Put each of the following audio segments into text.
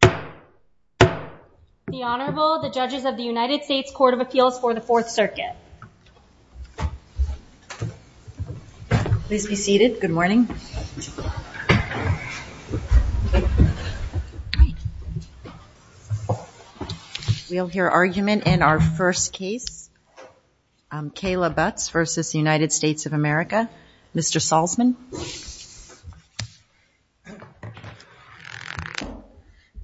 The Honorable, the judges of the United States Court of Appeals for the Fourth Circuit. Please be seated. Good morning. We'll hear argument in our first case, Kayla Butts v. United States of America. Mr. Salzman.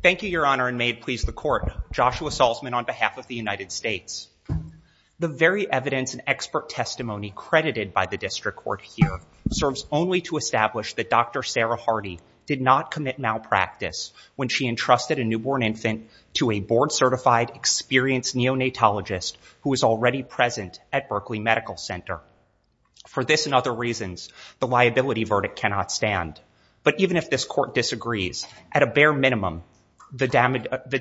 Thank you, Your Honor, and may it please the Court. Joshua Salzman on behalf of the United States. The very evidence and expert testimony credited by the district court here serves only to establish that Dr. Sarah Hardy did not commit malpractice when she entrusted a newborn infant to a board certified experienced neonatologist who was already present at Berkeley Medical Center. For this and other reasons, the liability verdict cannot stand. But even if this court disagrees, at a bare minimum, the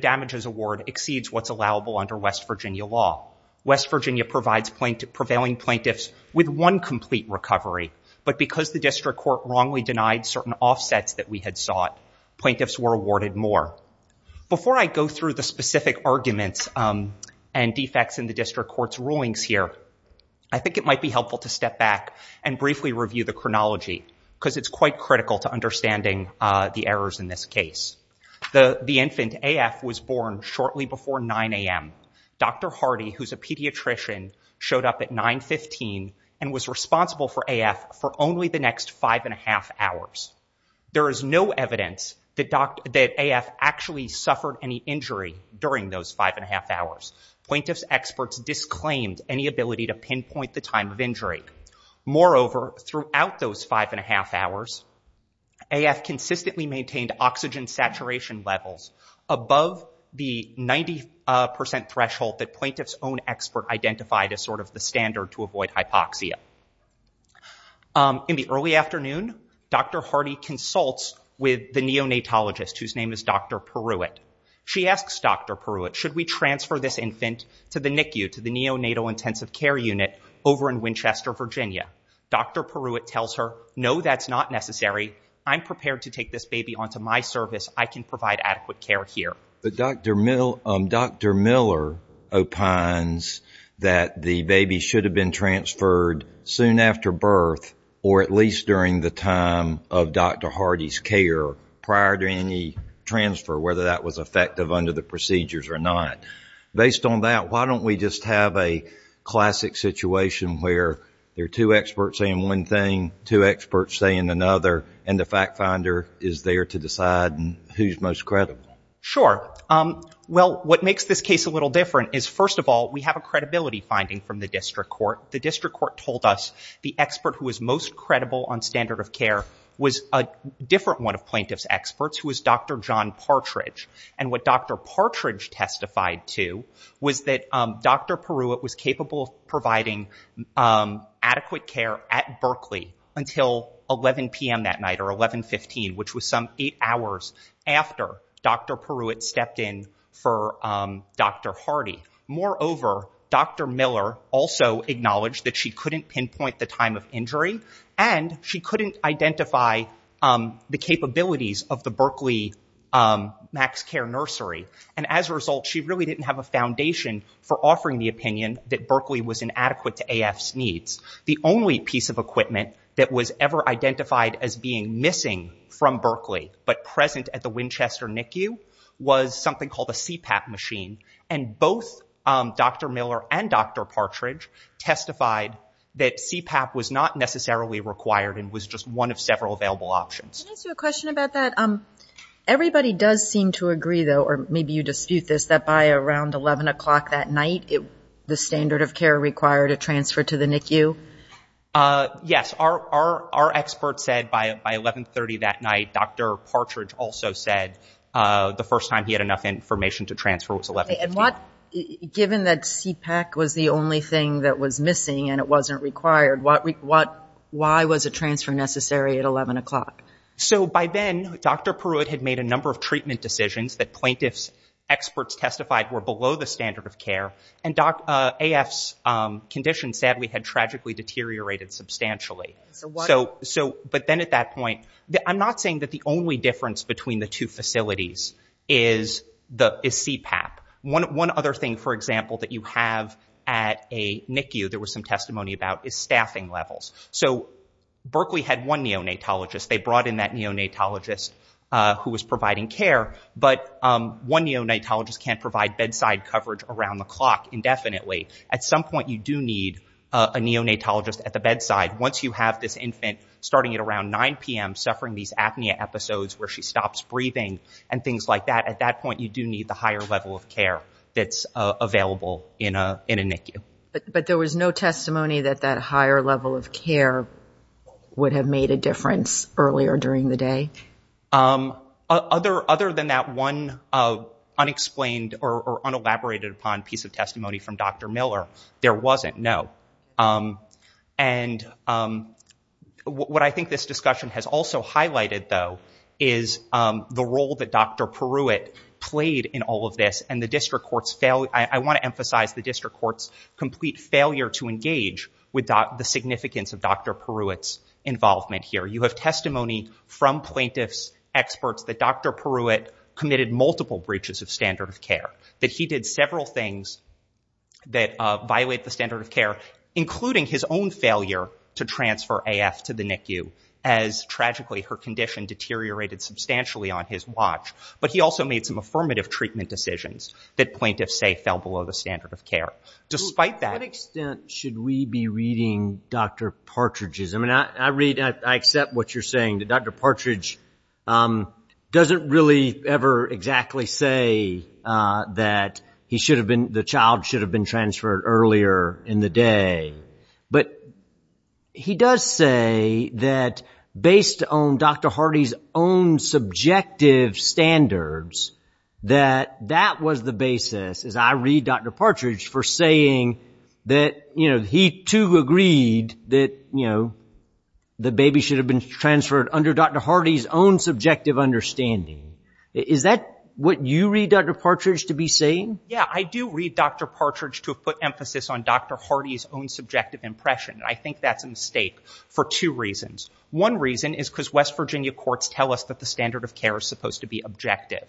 damages award exceeds what's allowable under West Virginia law. West Virginia provides prevailing plaintiffs with one complete recovery, but because the district court wrongly denied certain offsets that we had sought, plaintiffs were awarded more. Before I go through the specific arguments and defects in the district court's rulings here, I think it might be helpful to step back and briefly review the chronology because it's quite critical to understanding the errors in this case. The infant, AF, was born shortly before 9 a.m. Dr. Hardy, who's a pediatrician, showed up at 915 and was responsible for AF for only the next five and a half hours. There is no evidence that AF actually suffered any injury during those five and a half hours. Plaintiffs' experts disclaimed any ability to pinpoint the time of injury. Moreover, throughout those five and a half hours, AF consistently maintained oxygen saturation levels above the 90% threshold that plaintiffs' own expert identified as sort of the standard to avoid hypoxia. In the early afternoon, Dr. Hardy consults with the patient and says, could we transfer this infant to the NICU, to the neonatal intensive care unit over in Winchester, Virginia? Dr. Peruitt tells her, no, that's not necessary. I'm prepared to take this baby onto my service. I can provide adequate care here. Dr. Miller opines that the baby should have been transferred soon after birth or at least during the time of Dr. Hardy's care prior to any effective under the procedures or not. Based on that, why don't we just have a classic situation where there are two experts saying one thing, two experts saying another, and the fact finder is there to decide who's most credible? Sure. Well, what makes this case a little different is, first of all, we have a credibility finding from the district court. The district court told us the expert who was most credible on standard of care was a different one of Dr. John Partridge, and what Dr. Partridge testified to was that Dr. Peruitt was capable of providing adequate care at Berkeley until 11 p.m. that night or 1115, which was some eight hours after Dr. Peruitt stepped in for Dr. Hardy. Moreover, Dr. Miller also acknowledged that she couldn't pinpoint the time of MaxCare Nursery, and as a result, she really didn't have a foundation for offering the opinion that Berkeley was inadequate to AF's needs. The only piece of equipment that was ever identified as being missing from Berkeley but present at the Winchester NICU was something called a CPAP machine, and both Dr. Miller and Dr. Partridge testified that CPAP was not necessarily required and just one of several available options. Can I ask you a question about that? Everybody does seem to agree, though, or maybe you dispute this, that by around 11 o'clock that night, the standard of care required a transfer to the NICU? Yes. Our expert said by 1130 that night. Dr. Partridge also said the first time he had enough information to transfer was 1115. And given that CPAP was the only thing that was missing and it wasn't required, why was a transfer necessary at 11 o'clock? So by then, Dr. Pruitt had made a number of treatment decisions that plaintiff's experts testified were below the standard of care, and AF's condition, sadly, had tragically deteriorated substantially. But then at that point, I'm not saying that the only difference the two facilities is CPAP. One other thing, for example, that you have at a NICU there was some testimony about is staffing levels. So Berkeley had one neonatologist. They brought in that neonatologist who was providing care. But one neonatologist can't provide bedside coverage around the clock indefinitely. At some point, you do need a neonatologist at the bedside. Once you have this infant starting at around 9 p.m. suffering these apnea episodes where she stops breathing and things like that, at that point, you do need the higher level of care that's available in a NICU. But there was no testimony that that higher level of care would have made a difference earlier during the day? Other than that one unexplained or unelaborated upon piece of testimony from Dr. Miller, there wasn't, no. And what I think this discussion has also highlighted, though, is that the role that Dr. Peruit played in all of this and the district court's failure, I want to emphasize the district court's complete failure to engage with the significance of Dr. Peruit's involvement here. You have testimony from plaintiff's experts that Dr. Peruit committed multiple breaches of standard of care, that he did several things that violate the standard of care, including his own failure to transfer AF to the NICU as, tragically, her condition deteriorated substantially on his watch. But he also made some affirmative treatment decisions that plaintiffs say fell below the standard of care. Despite that— To what extent should we be reading Dr. Partridge's? I mean, I read, I accept what you're saying. Dr. Partridge doesn't really ever exactly say that he should have been, the child should have been transferred earlier in the day. But he does say that based on Dr. Hardy's own subjective standards, that that was the basis, as I read Dr. Partridge, for saying that he, too, agreed that the baby should have been transferred under Dr. Hardy's own subjective understanding. Is that what you read Dr. Partridge to be saying? Yeah, I do read Dr. Partridge to put emphasis on Dr. Hardy's own subjective impression. I think that's a mistake for two reasons. One reason is because West Virginia courts tell us that the standard of care is supposed to be objective.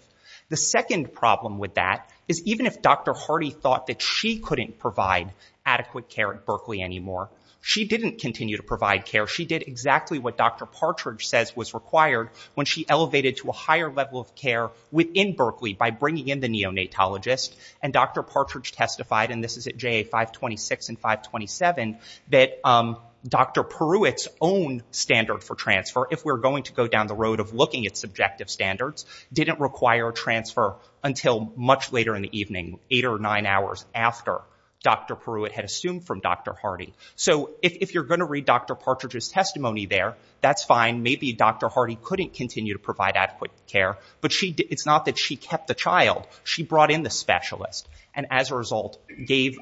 The second problem with that is even if Dr. Hardy thought that she couldn't provide adequate care at Berkeley anymore, she didn't continue to provide care. She did exactly what Dr. Partridge says was required when she elevated to a higher level of care within Berkeley by bringing in the neonatologist. And Dr. Partridge testified, and this is at JA 526 and 527, that Dr. Peruit's own standard for transfer, if we're going to go down the road of looking at subjective standards, didn't require transfer until much later in the evening, eight or nine hours after Dr. Peruit had assumed from Dr. Hardy. So if you're going to read Dr. Partridge's testimony there, that's fine. Maybe Dr. Hardy couldn't continue to provide adequate care. But it's not that she kept the child. She brought in the specialist. And as a result, gave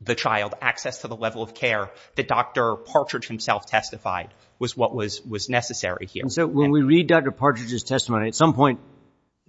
the child access to the level of care that Dr. Partridge himself testified was what was necessary here. And so when we read Dr. Partridge's testimony, at some point,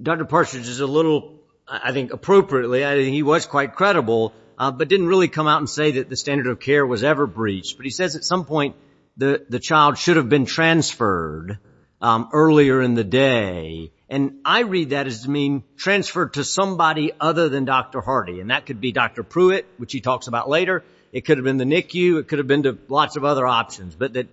Dr. Partridge is a little, I think appropriately, I think he was quite credible, but didn't really come out and say that the standard of care was ever breached. But he says at some point the child should have been transferred earlier in the day. And I read that as being transferred to somebody other than Dr. Hardy. And that could be Dr. Peruit, which he talks about later. It could have been the NICU. It could have been lots of other options. But that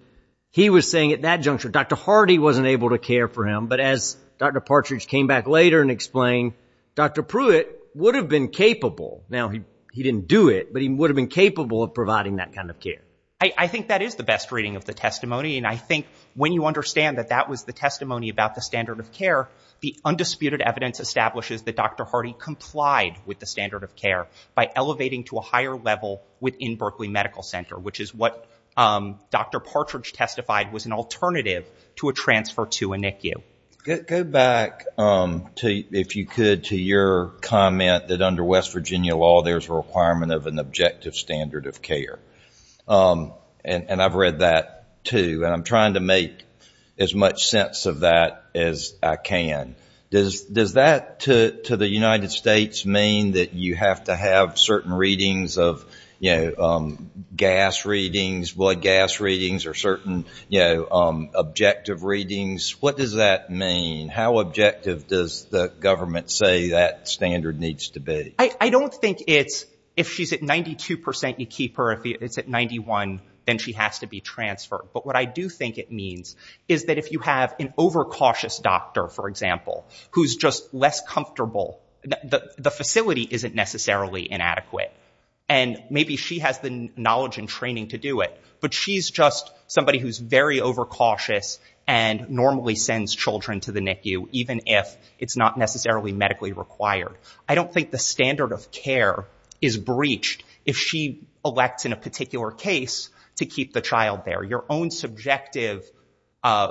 he was saying at that juncture, Dr. Hardy wasn't able to care for him. But as Dr. Partridge came back later and explained, Dr. Peruit would have been capable. Now, he didn't do it, but he would have been capable of providing that kind of care. I think that is the best reading of the testimony. And I think when you understand that that was the testimony about the standard of care, the undisputed evidence establishes that Dr. Hardy complied with the standard of care by elevating to a higher level within Berkeley Medical Center, which is what Dr. Partridge testified was an alternative to a transfer to a NICU. Go back, if you could, to your comment that under West Virginia law there's a requirement of an objective standard of care. And I've read that too. And I'm trying to make as much sense of that as I can. Does that to the United States mean that you have to have certain readings of, you know, gas readings, blood gas readings, or certain objective readings? What does that mean? How objective does the government say that standard needs to be? I don't think it's if she's at 92% you keep her. If it's at 91, then she has to be transferred. But what I do think it means is that if you have an overcautious doctor, for example, who's just less comfortable, the facility isn't necessarily inadequate. And maybe she has the knowledge and training to do it. But she's just somebody who's very overcautious and normally sends children to the NICU, even if it's not necessarily medically required. I don't think the standard of care is breached if she elects in a particular case to keep the child there. Your own subjective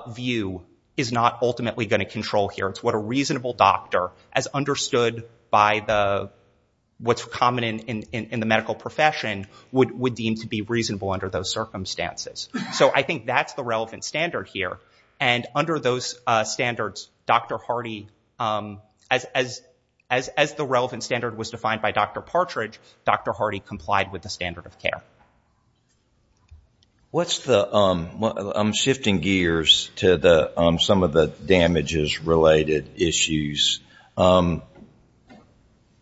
view is not ultimately going to control here. It's what a reasonable doctor, as understood by what's common in the medical profession, would deem to be reasonable under those circumstances. So I think that's the relevant standard here. And under those standards, Dr. Hardy, as the relevant standard was defined by Dr. Partridge, Dr. Hardy complied with the standard of care. What's the... I'm shifting gears to some of the damages-related issues.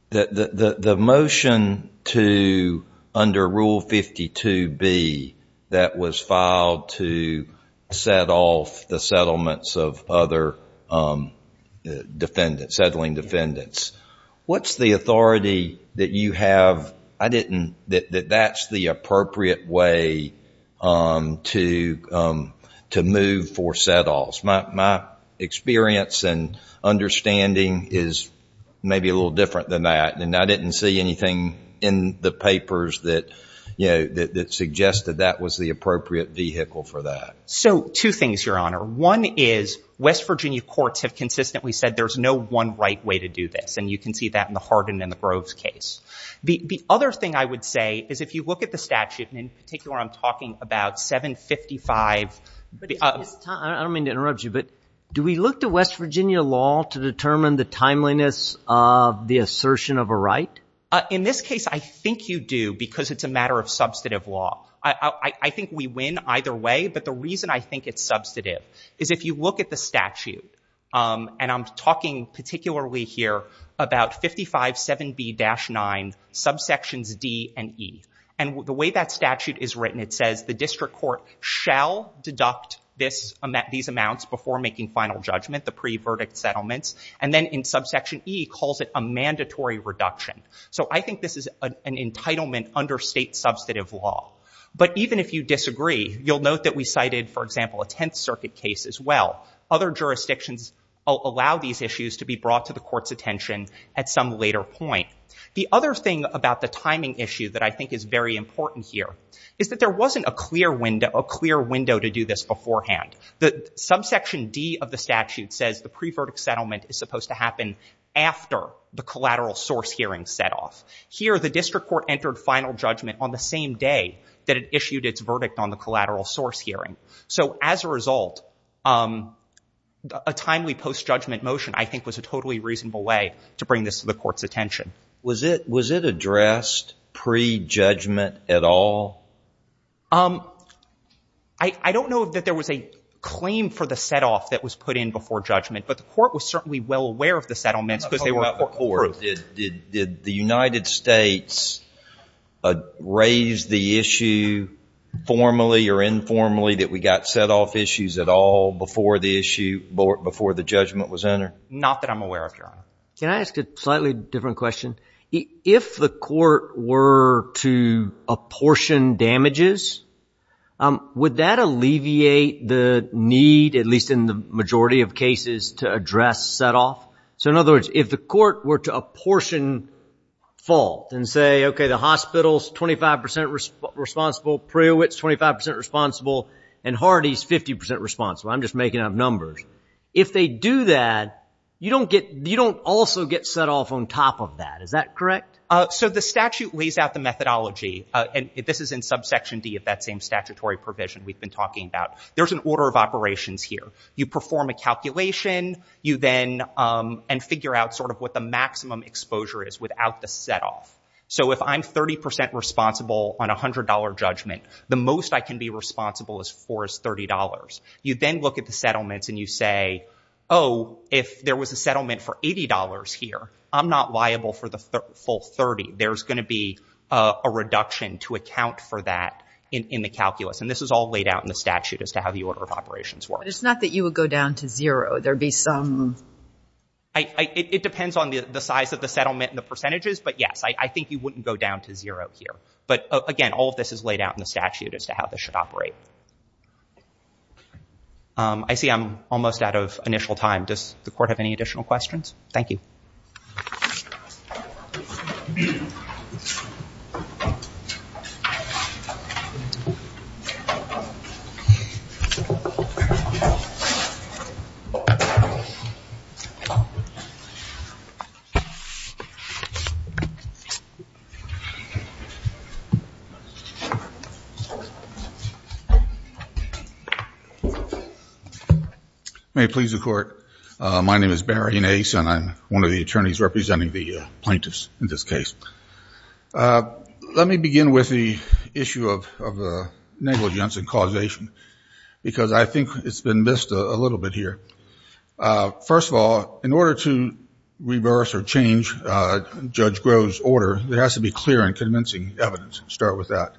The motion to under Rule 52B that was filed to set off the settlements of other defendants, settling defendants. What's the authority that you have... I didn't... that that's the appropriate way to move for set-offs. My experience and understanding is maybe a little different than that, and I didn't see anything in the papers that, you know, that suggested that was the appropriate vehicle for that. So two things, Your Honor. One is West Virginia courts have consistently said there's no one right way to do this, and you can see that in the Hardin and the Groves case. The other thing I would say is if you look at the statute, and in particular I'm talking about 755... I don't mean to interrupt you, but do we look to West Virginia law to determine the timeliness of the assertion of a right? In this case, I think you do, because it's a matter of substantive law. I think we win either way, but the reason I think it's substantive is if you look at the statute, and I'm talking particularly here about 557B-9 subsections D and E, and the way that statute is written, it says the district court shall deduct this... these amounts before making final judgment, the pre-verdict settlements, and then in subsection E calls it a mandatory reduction. So I think this is an entitlement under state substantive law. But even if you disagree, you'll note that we cited, for example, a Tenth Circuit case as well. Other jurisdictions allow these issues to be brought to the court's attention at some later point. The other thing about the timing issue that I think is very important here is that there wasn't a clear window to do this beforehand. The subsection D of the statute says the pre-verdict settlement is supposed to happen after the collateral source hearing set off. Here, the district court entered final judgment on the same day that it issued its verdict on the collateral source hearing. So as a result, a timely post-judgment motion, I think, was a totally reasonable way to bring this to the court's attention. Was it addressed pre-judgment at all? I don't know that there was a claim for the set-off that was put in before judgment, but the court was certainly well aware of the settlements because they were approved. Did the United States raise the issue formally or informally that we got set-off issues at all before the issue, before the judgment was entered? Not that I'm aware of, Your Honor. Can I ask a slightly different question? If the court were to apportion damages, would that alleviate the need, at least in the majority of cases, to address set-off? So in other words, if the court were to apportion fault and say, okay, the hospital's 25 percent responsible, Prewitt's 25 percent responsible, and Hardy's 50 percent responsible, I'm just going to get set-off on top of that. Is that correct? So the statute lays out the methodology, and this is in subsection D of that same statutory provision we've been talking about. There's an order of operations here. You perform a calculation and figure out sort of what the maximum exposure is without the set-off. So if I'm 30 percent responsible on $100 judgment, the most I can be responsible for is $30. You then look at the settlements and you say, oh, if there was a settlement for $80 here, I'm not liable for the full 30. There's going to be a reduction to account for that in the calculus. And this is all laid out in the statute as to how the order of operations works. But it's not that you would go down to zero. There'd be some— It depends on the size of the settlement and the percentages, but yes, I think you wouldn't go down to zero here. But again, all of this is laid out in the statute as to how this should operate. I see I'm almost out of initial time. Does the court have any additional questions? Thank you. May it please the court. My name is Barry Nace and I'm one of the attorneys representing the plaintiffs in this case. Let me begin with the issue of negligence and causation because I think it's been missed a little bit here. First of all, in order to reverse or change Judge Groh's order, there has to be clear and convincing evidence to start with that.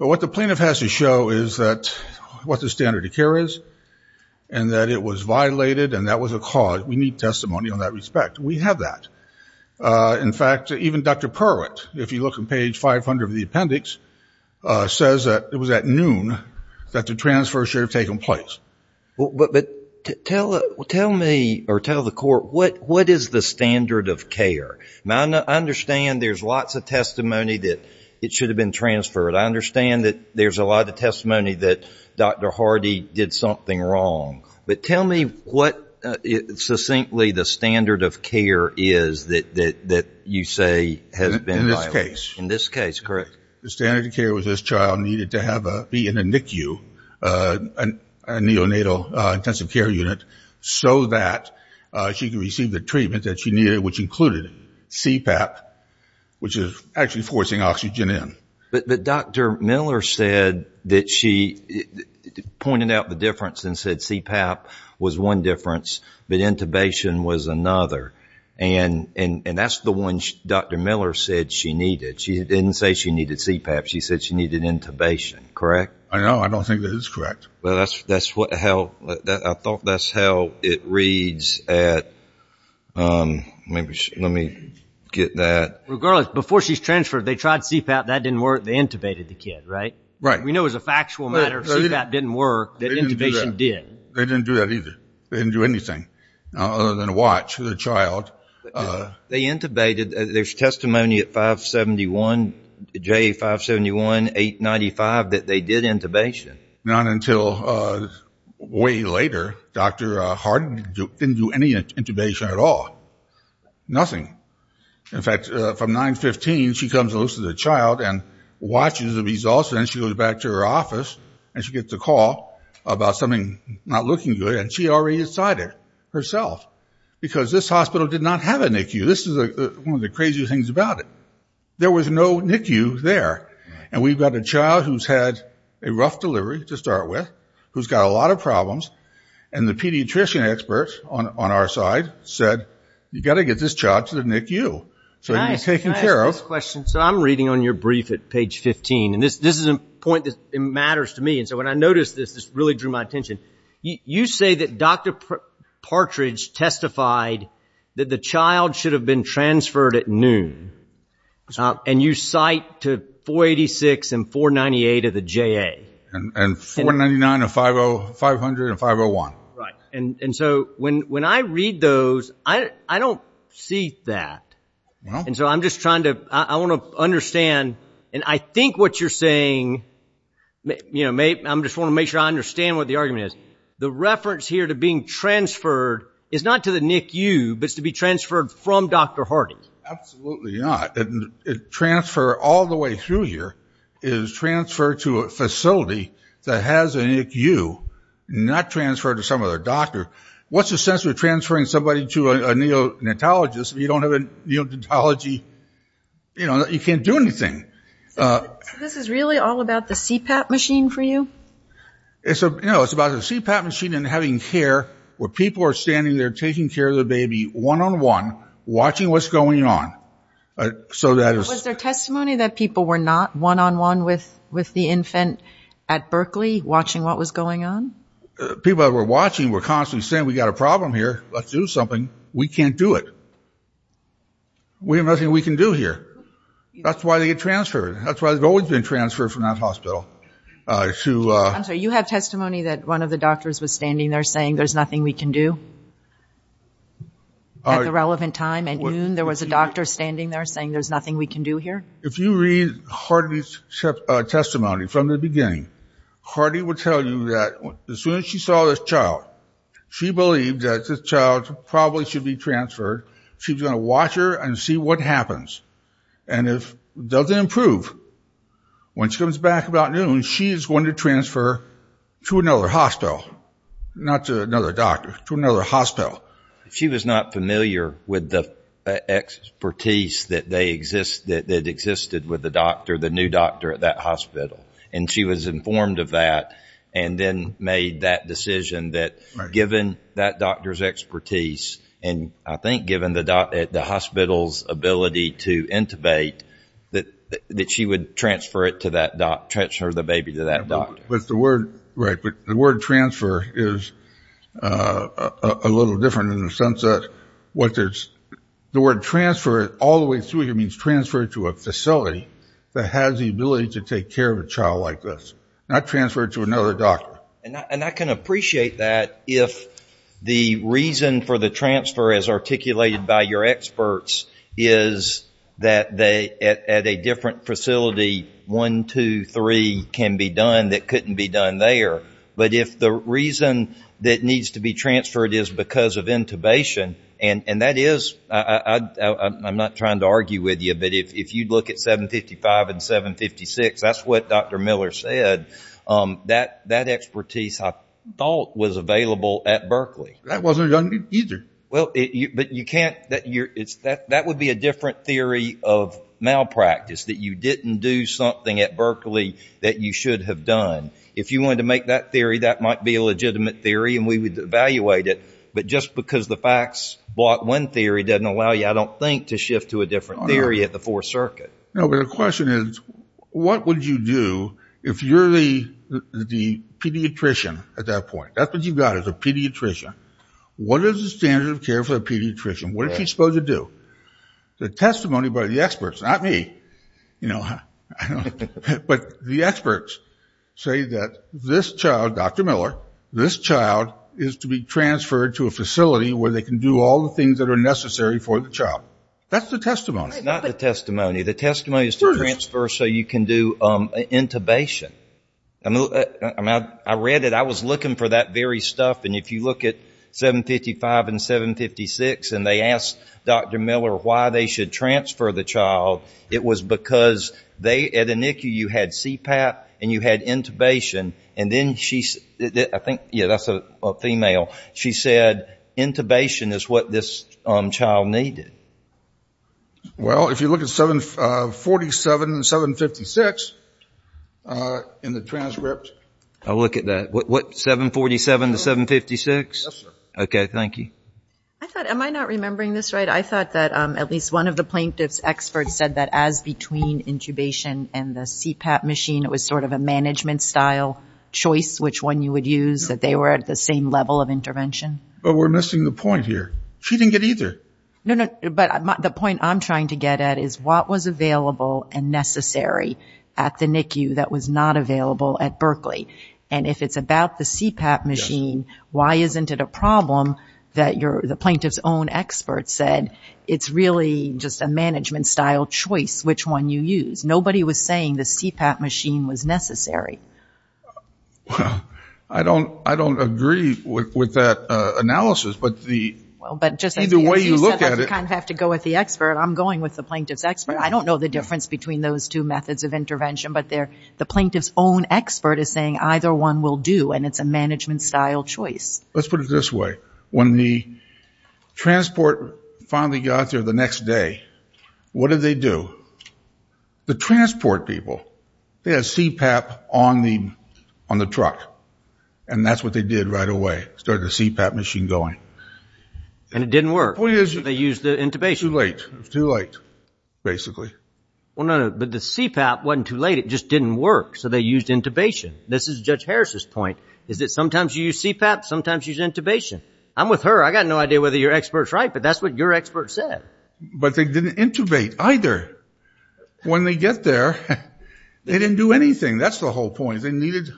But what the plaintiff has to show is what the standard of care is and that it was violated and that was a cause. We need testimony on that respect. We have that. In fact, even Dr. Perwitt, if you look on page 500 of the appendix, says that it was at noon that the transfer should have taken place. But tell me or tell the court, what is the standard of care? I understand there's lots of testimony that it should have been transferred. I understand that there's a lot of testimony that Dr. Hardy did something wrong. But tell me what succinctly the standard of care is that you say has been violated. In this case. In this case, correct. The standard of care was this child needed to be in a NICU, a neonatal intensive care unit, so that she could receive the treatment that she needed, which included CPAP, which is actually forcing oxygen in. But Dr. Miller said that she pointed out the difference and said CPAP was one difference but intubation was another. And that's the one Dr. Miller said she needed. She didn't say she needed CPAP. She said she needed intubation, correct? I know. I don't think that is correct. That's how, I thought that's how it reads at, maybe, let me get that. Regardless, before she's transferred, they tried CPAP, that didn't work, they intubated the kid, right? Right. We know as a factual matter, CPAP didn't work, that intubation did. They didn't do that either. They didn't do anything other than watch the child. They intubated, there's testimony at 571, J571, 895, that they did intubation. Not until way later, Dr. Harden didn't do any intubation at all. Nothing. In fact, from 915, she comes and looks at the child and watches the results and then she goes back to her office and she gets a call about something not looking good and she already decided herself because this hospital did not have a NICU. This is one of the craziest things about it. There was no NICU there. And we've got a child who's had a rough delivery to start with, who's got a lot of problems, and the pediatrician expert on our side said, you've got to get this child to the NICU so it can be taken care of. Can I ask this question? So I'm reading on your brief at page 15, and this is a point that matters to me, and so when I noticed this, this really drew my attention. You say that Dr. Partridge testified that the child should have been transferred at noon. And you cite to 486 and 498 of the JA. And 499 of 500 and 501. And so when I read those, I don't see that. And so I'm just trying to, I want to understand, and I think what you're saying, you know, I just want to make sure I understand what the argument is. The reference here to being transferred is not to the NICU, but it's to be transferred from Dr. Harding. Absolutely not. Transfer all the way through here is transfer to a facility that has a NICU, not transfer to some other doctor. What's the sense of transferring somebody to a neonatologist if you don't have a neonatology, you know, you can't do anything? This is really all about the CPAP machine for you? It's a, you know, it's about a CPAP machine and having care where people are standing there taking care of the baby one-on-one, watching what's going on. So that is... Was there testimony that people were not one-on-one with the infant at Berkeley watching what was going on? People that were watching were constantly saying, we got a problem here, let's do something. We can't do it. We have nothing we can do here. That's why they get transferred. That's why they've always been transferred from that hospital. You have testimony that one of the doctors was standing there saying there's nothing we can do? At the relevant time, at noon, there was a doctor standing there saying there's nothing we can do here? If you read Harding's testimony from the beginning, Harding would tell you that as soon as she saw this child, she believed that this child probably should be transferred. She was going to watch her and see what happens. And if it doesn't improve, when she comes back about noon, she's going to transfer to another hospital, not to another doctor, to another hospital. She was not familiar with the expertise that they existed, that existed with the doctor, the new doctor at that hospital. And she was informed of that and then made that decision that given that doctor's expertise, and I think given the hospital's ability to intubate, that she would transfer it to that doctor, transfer the baby to that doctor. But the word, right, but the word transfer is a little different in the sense that what there's, the word transfer all the way through here means transfer to a facility that has the ability to take care of a child like this, not transfer it to another doctor. And I can appreciate that if the reason for the transfer as articulated by your experts is that at a different facility, one, two, three can be done that couldn't be done there. But if the reason that needs to be transferred is because of intubation, and that is, I'm not trying to argue with you, but if you look at 755 and 756, that's what Dr. Miller said, that expertise I thought was available at Berkeley. That wasn't done either. Well, but you can't, that would be a different theory of malpractice, that you didn't do something at Berkeley that you should have done. If you wanted to make that theory, that might be a legitimate theory and we would evaluate it. But just because the facts block one theory doesn't allow you, I don't think, to shift to a different theory at the Fourth Circuit. No, but the question is, what would you do if you're the pediatrician at that point? That's what you've got, is a pediatrician. What is the standard of care for a pediatrician? What is she supposed to do? The testimony by the experts, not me, you know, but the experts say that this child, Dr. Miller, this child is to be transferred to a facility where they can do all the things that are necessary for the child. That's the testimony. Not the testimony. The testimony is to transfer so you can do intubation. I mean, I read it. I was looking for that very stuff. And if you look at 755 and 756 and they asked Dr. Miller why they should transfer the child, it was because they, at Inicu, you had CPAP and you had intubation. And then she, I think, yeah, that's a female. She said intubation is what this child needed. Well, if you look at 747 and 756 in the transcript. I'll look at that. What, 747 to 756? Yes, sir. Okay, thank you. I thought, am I not remembering this right? I thought that at least one of the plaintiff's experts said that as between intubation and the CPAP machine, it was sort of a management style choice which one you would use, that they were at the same level of intervention. But we're missing the point here. She didn't get either. No, no. But the point I'm trying to get at is what was available and necessary at the NICU that was not available at Berkeley. And if it's about the CPAP machine, why isn't it a problem that the plaintiff's own expert said, it's really just a management style choice which one you use. Nobody was saying the CPAP machine was necessary. Well, I don't agree with that analysis. But just as you said, I have to go with the expert. I'm going with the plaintiff's expert. I don't know the difference between those two methods of intervention. But the plaintiff's own expert is saying either one will do. And it's a management style choice. Let's put it this way. When the transport finally got there the next day, what did they do? The transport people, they had CPAP on the truck. And that's what they did right away. Started the CPAP machine going. And it didn't work. They used the intubation. It was too late. It was too late, basically. Well, no, no. But the CPAP wasn't too late. It just didn't work. So they used intubation. This is Judge Harris's point, is that sometimes you use CPAP, sometimes you use intubation. I'm with her. I got no idea whether your expert's right. But that's what your expert said. But they didn't intubate either. When they get there, they didn't do anything. That's the whole point. They needed.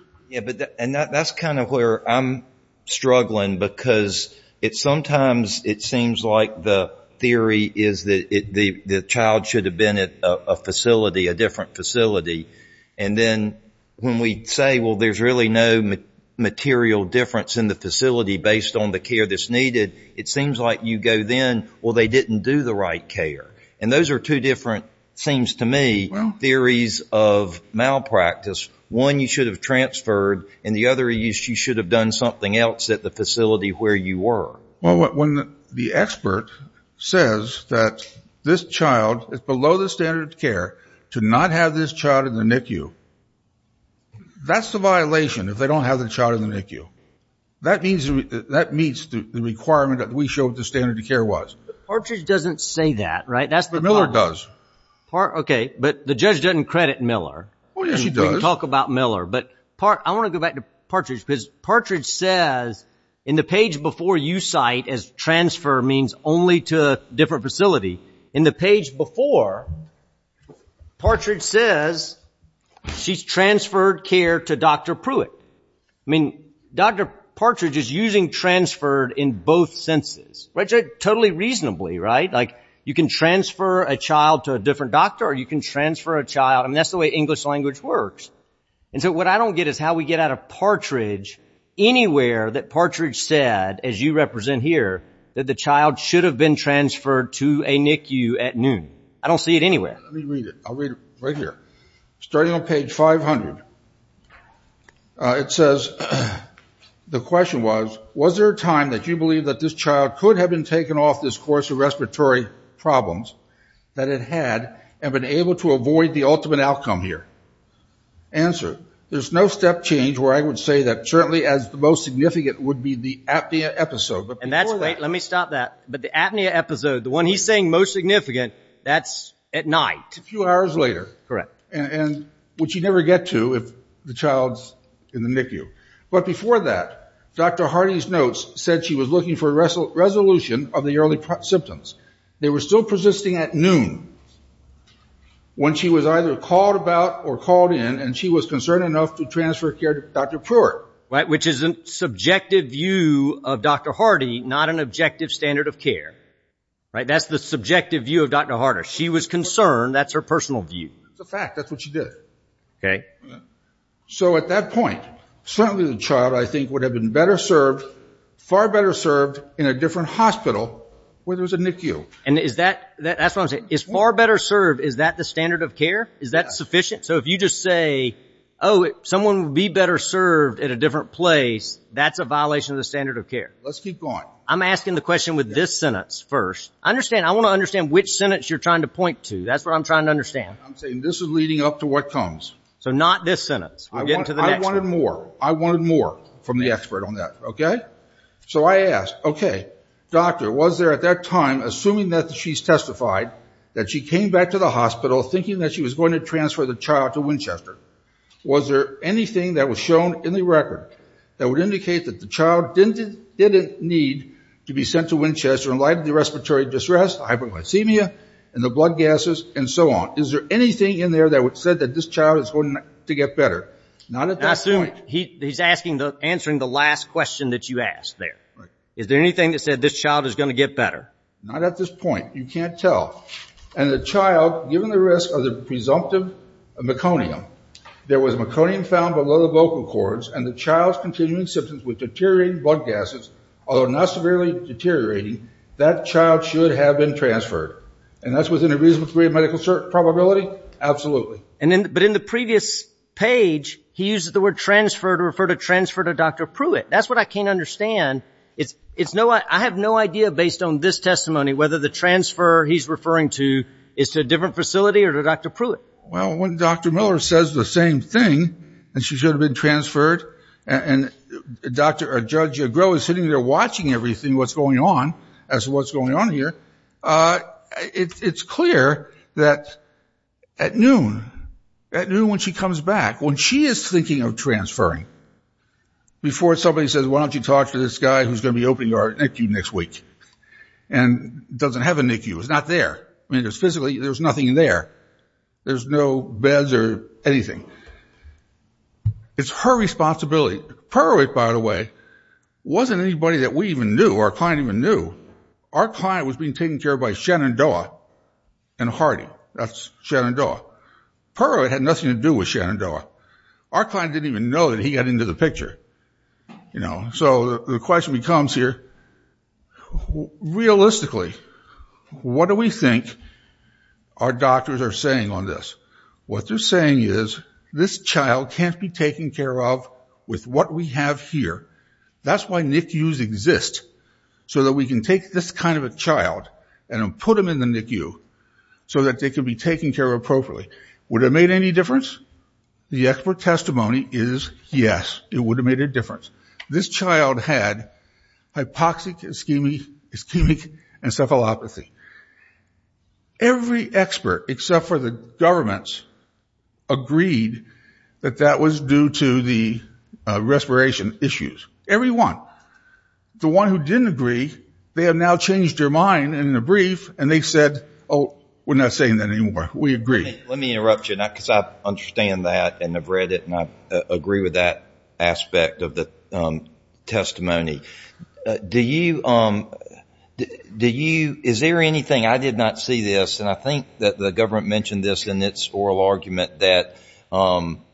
And that's kind of where I'm struggling. Because sometimes it seems like the theory is that the child should have been at a facility, a different facility. And then when we say, well, there's really no material difference in the facility based on the care that's needed. It seems like you go then, well, they didn't do the right care. And those are two different, it seems to me, theories of malpractice. One, you should have transferred. And the other, you should have done something else at the facility where you were. Well, when the expert says that this child is below the standard of care to not have this child in the NICU, that's the violation if they don't have the child in the NICU. That meets the requirement that we showed the standard of care was. Partridge doesn't say that, right? But Miller does. OK, but the judge doesn't credit Miller. Oh, yes, she does. We can talk about Miller. But I want to go back to Partridge, because Partridge says in the page before you cite as transfer means only to a different facility. In the page before, Partridge says she's transferred care to Dr. Pruitt. I mean, Dr. Partridge is using transferred in both senses, totally reasonably, right? Like you can transfer a child to a different doctor, or you can transfer a child. That's the way English language works. And so what I don't get is how we get out of Partridge anywhere that Partridge said, as you represent here, that the child should have been transferred to a NICU at noon. I don't see it anywhere. Let me read it. I'll read it right here. Starting on page 500, it says, the question was, was there a time that you believe that this child could have been taken off this course of respiratory problems that it had and been able to avoid the ultimate outcome here? Answer, there's no step change where I would say that certainly as the most significant would be the apnea episode. And that's great. Let me stop that. But the apnea episode, the one he's saying most significant, that's at night. A few hours later. Correct. And which you never get to if the child's in the NICU. But before that, Dr. Harding's notes said she was looking for a resolution of the early symptoms. They were still persisting at noon when she was either called about or called in. And she was concerned enough to transfer care to Dr. Pruitt. Which is a subjective view of Dr. Hardy, not an objective standard of care. That's the subjective view of Dr. Harder. She was concerned. That's her personal view. It's a fact. That's what she did. So at that point, certainly the child, I think, would have been far better served in a different hospital where there was a NICU. And is that, that's what I'm saying, is far better served, is that the standard of care? Is that sufficient? So if you just say, oh, someone would be better served at a different place, that's a violation of the standard of care. Let's keep going. I'm asking the question with this sentence first. I understand. I want to understand which sentence you're trying to point to. That's what I'm trying to understand. I'm saying this is leading up to what comes. So not this sentence. We're getting to the next one. I wanted more from the expert on that, OK? So I ask, OK, doctor, was there at that time, assuming that she's testified, that she came back to the hospital thinking that she was going to transfer the child to Winchester? Was there anything that was shown in the record that would indicate that the child didn't need to be sent to Winchester in light of the respiratory distress, hyperglycemia, and the blood gases, and so on? Is there anything in there that said that this child is going to get better? Not at that point. He's answering the last question that you asked there. Is there anything that said this child is going to get better? Not at this point. You can't tell. And the child, given the risk of the presumptive meconium, there was meconium found below the vocal cords, and the child's continuing symptoms with deteriorating blood gases, although not severely deteriorating, that child should have been transferred. And that's within a reasonable degree of medical probability? Absolutely. But in the previous page, he used the word transfer to refer to transfer to Dr. Pruitt. That's what I can't understand. I have no idea, based on this testimony, whether the transfer he's referring to is to a different facility or to Dr. Pruitt. Well, when Dr. Miller says the same thing, that she should have been transferred, and Judge Agro is sitting there watching everything, what's going on, as to what's going on here, it's clear that at noon, at noon when she comes back, when she is thinking of transferring, before somebody says, why don't you talk to this guy who's going to be opening our NICU next week, and doesn't have a NICU. It's not there. I mean, physically, there's nothing in there. There's no beds or anything. It's her responsibility. Pruitt, by the way, wasn't anybody that we even knew, our client even knew. Our client was being taken care of by Shenandoah and Hardy. That's Shenandoah. Pruitt had nothing to do with Shenandoah. Our client didn't even know that he got into the picture. So the question becomes here, realistically, what do we think our doctors are saying on this? What they're saying is, this child can't be taken care of with what we have here. That's why NICUs exist, so that we can take this kind of a child and put them in the NICU, so that they can be taken care of appropriately. Would it have made any difference? The expert testimony is, yes, it would have made a difference. This child had hypoxic ischemic encephalopathy. Every expert, except for the governments, agreed that that was due to the respiration issues. Every one. The one who didn't agree, they have now changed their mind in the brief. And they've said, oh, we're not saying that anymore. We agree. Let me interrupt you, because I understand that, and I've read it, and I agree with that aspect of the testimony. Is there anything? I did not see this, and I think that the government mentioned this in its oral argument, that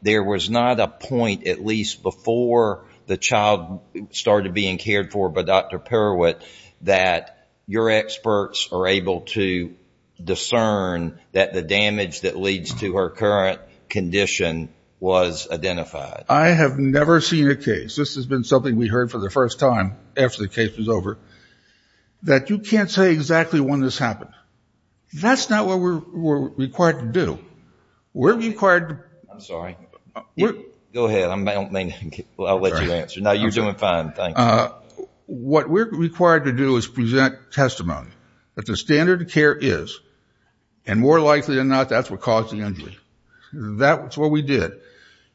there was not a point, at least before the child started being cared for by Dr. Perwitt, that your experts are able to discern that the damage that leads to her current condition was identified. I have never seen a case, this has been something we heard for the first time after the case was over, that you can't say exactly when this happened. That's not what we're required to do. We're required to. I'm sorry. Go ahead, I'll let you answer. No, you're doing fine, thank you. What we're required to do is present testimony that the standard of care is, and more likely than not, that's what caused the injury. That's what we did.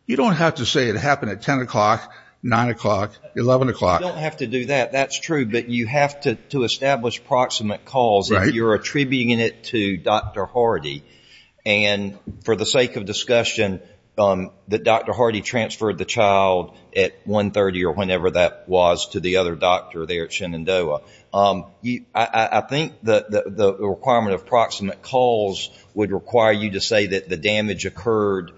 You don't have to say it happened at 10 o'clock, 9 o'clock, 11 o'clock. You don't have to do that. That's true, but you have to establish proximate calls if you're attributing it to Dr. Hardy. And for the sake of discussion, that Dr. Hardy transferred the child at 1.30 or whenever that was to the other doctor there at Shenandoah, I think that the requirement of proximate calls would require you to say that the damage occurred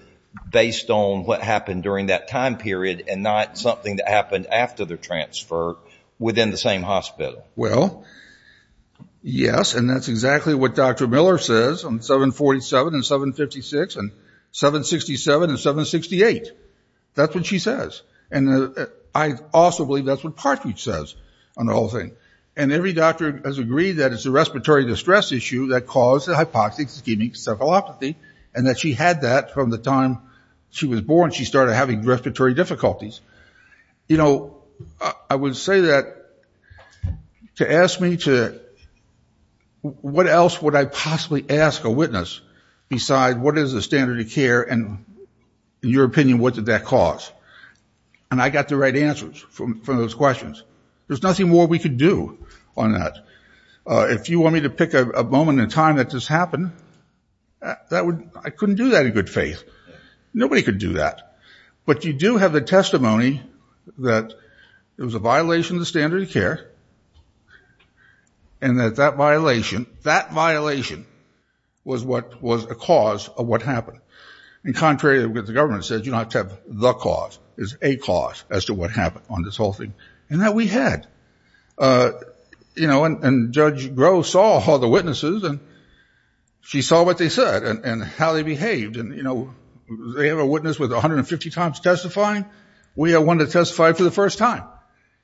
based on what happened during that time period and not something that happened after the transfer within the same hospital. Well, yes, and that's exactly what Dr. Miller says on 747 and 756 and 767 and 768. That's what she says. And I also believe that's what Partridge says on the whole thing. And every doctor has agreed that it's a respiratory distress issue that caused the hypoxic ischemic cephalopathy and that she had that from the time she was born. She started having respiratory difficulties. You know, I would say that to ask me to what else would I possibly ask a witness besides what is the standard of care and, in your opinion, what did that cause? And I got the right answers for those questions. There's nothing more we could do on that. If you want me to pick a moment in time that this happened, I couldn't do that in good faith. Nobody could do that. But you do have the testimony that it was a violation of the standard of care and that that violation was a cause of what happened. And contrary to what the government said, you don't have to have the cause. It's a cause as to what happened on this whole thing. And that we had. And Judge Groh saw all the witnesses. And she saw what they said and how they behaved. And they have a witness with 150 times testifying. We have one that testified for the first time.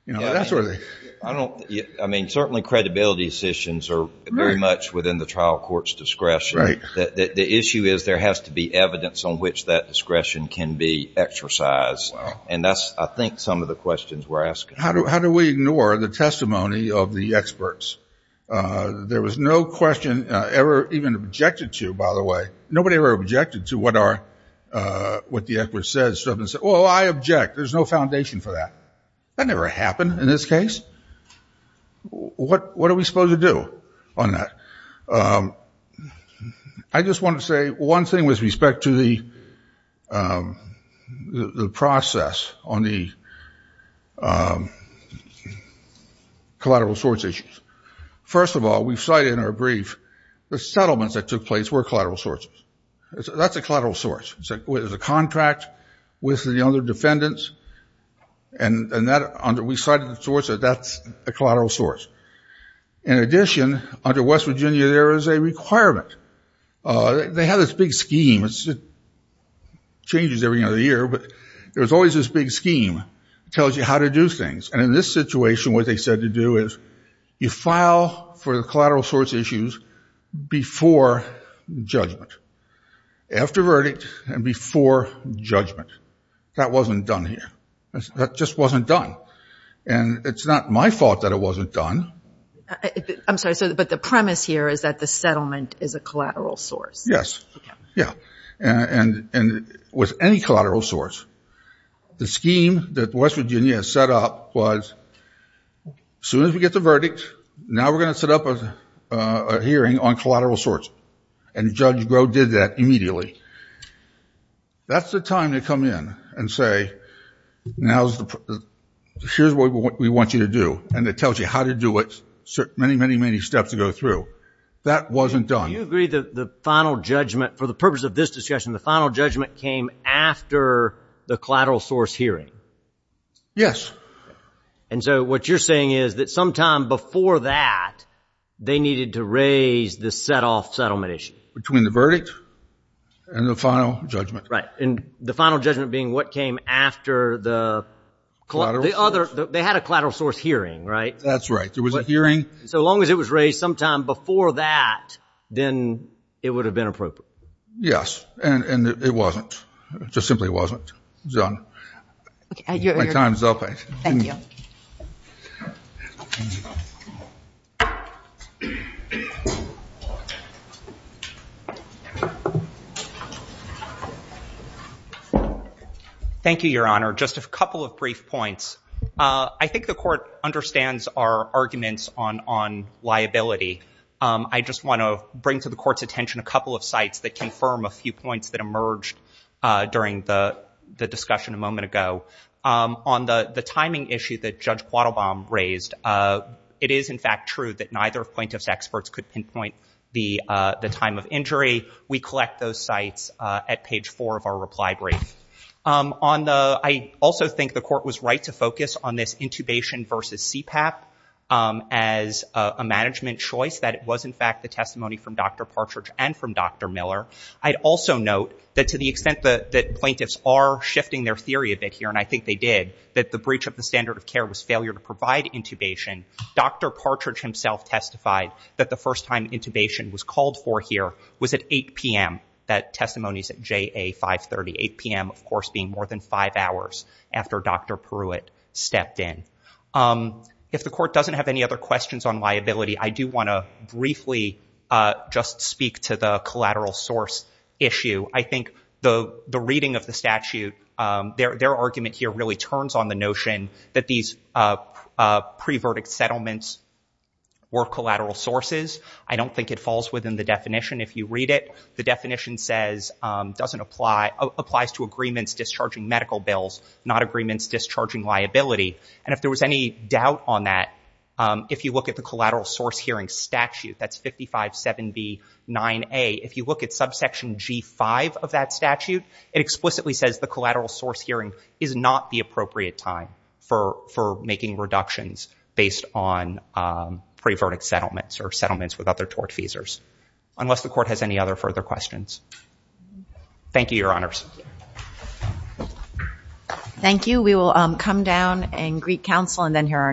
That's where they. I mean, certainly credibility decisions are very much within the trial court's discretion. The issue is there has to be evidence on which that discretion can be exercised. And that's, I think, some of the questions we're asking. How do we ignore the testimony of the experts? There was no question ever even objected to, by the way. Nobody ever objected to what the expert said. Oh, I object. There's no foundation for that. That never happened in this case. What are we supposed to do on that? I just want to say one thing with respect to the process on the collateral source issues. First of all, we've cited in our brief the settlements that took place were collateral sources. That's a collateral source. There's a contract with the other defendants. And we cited the source that that's a collateral source. In addition, under West Virginia, there is a requirement. They have this big scheme. It changes every other year. But there's always this big scheme that tells you how to do things. And in this situation, what they said to do is you file for the collateral source issues before judgment, after verdict, and before judgment. That wasn't done here. That just wasn't done. And it's not my fault that it wasn't done. I'm sorry, but the premise here is that the settlement is a collateral source. Yes. Yeah. And with any collateral source, the scheme that West Virginia set up was as soon as we get the verdict, now we're going to set up a hearing on collateral source. And Judge Groh did that immediately. That's the time to come in and say, now here's what we want you to do. And it tells you how to do it, many, many, many steps to go through. That wasn't done. Do you agree that the final judgment, for the purpose of this discussion, the final judgment came after the collateral source hearing? Yes. And so what you're saying is that sometime before that, they needed to raise the set-off settlement issue? Between the verdict and the verdict. And the final judgment. Right. And the final judgment being what came after the other, they had a collateral source hearing, right? That's right. There was a hearing. So long as it was raised sometime before that, then it would have been appropriate. Yes. And it wasn't. Just simply wasn't done. My time is up. Thank you. Thank you, Your Honor. Just a couple of brief points. I think the court understands our arguments on liability. I just want to bring to the court's attention a couple of sites that confirm a few points that emerged during the discussion a moment ago. On the timing issue that Judge Quattlebaum raised, it is, in fact, true that neither of plaintiffs' experts could pinpoint the time of injury. We collect those sites. At page four of our reply brief. I also think the court was right to focus on this intubation versus CPAP as a management choice. That it was, in fact, the testimony from Dr. Partridge and from Dr. Miller. I'd also note that to the extent that plaintiffs are shifting their theory a bit here, and I think they did, that the breach of the standard of care was failure to provide intubation. Dr. Partridge himself testified that the first time intubation was called for here was at 8 PM. That testimony is at JA 530. 8 PM, of course, being more than five hours after Dr. Pruitt stepped in. If the court doesn't have any other questions on liability, I do want to briefly just speak to the collateral source issue. I think the reading of the statute, their argument here really turns on the notion that these pre-verdict settlements were collateral sources. I don't think it falls within the definition if you read it. The definition says, applies to agreements discharging medical bills, not agreements discharging liability. And if there was any doubt on that, if you look at the collateral source hearing statute, that's 557B9A. If you look at subsection G5 of that statute, it explicitly says the collateral source hearing is not the appropriate time for making reductions based on pre-verdict settlements or settlements with other tort feasors. Unless the court has any other further questions. Thank you, Your Honors. Thank you. We will come down and greet counsel, and then hear our next case.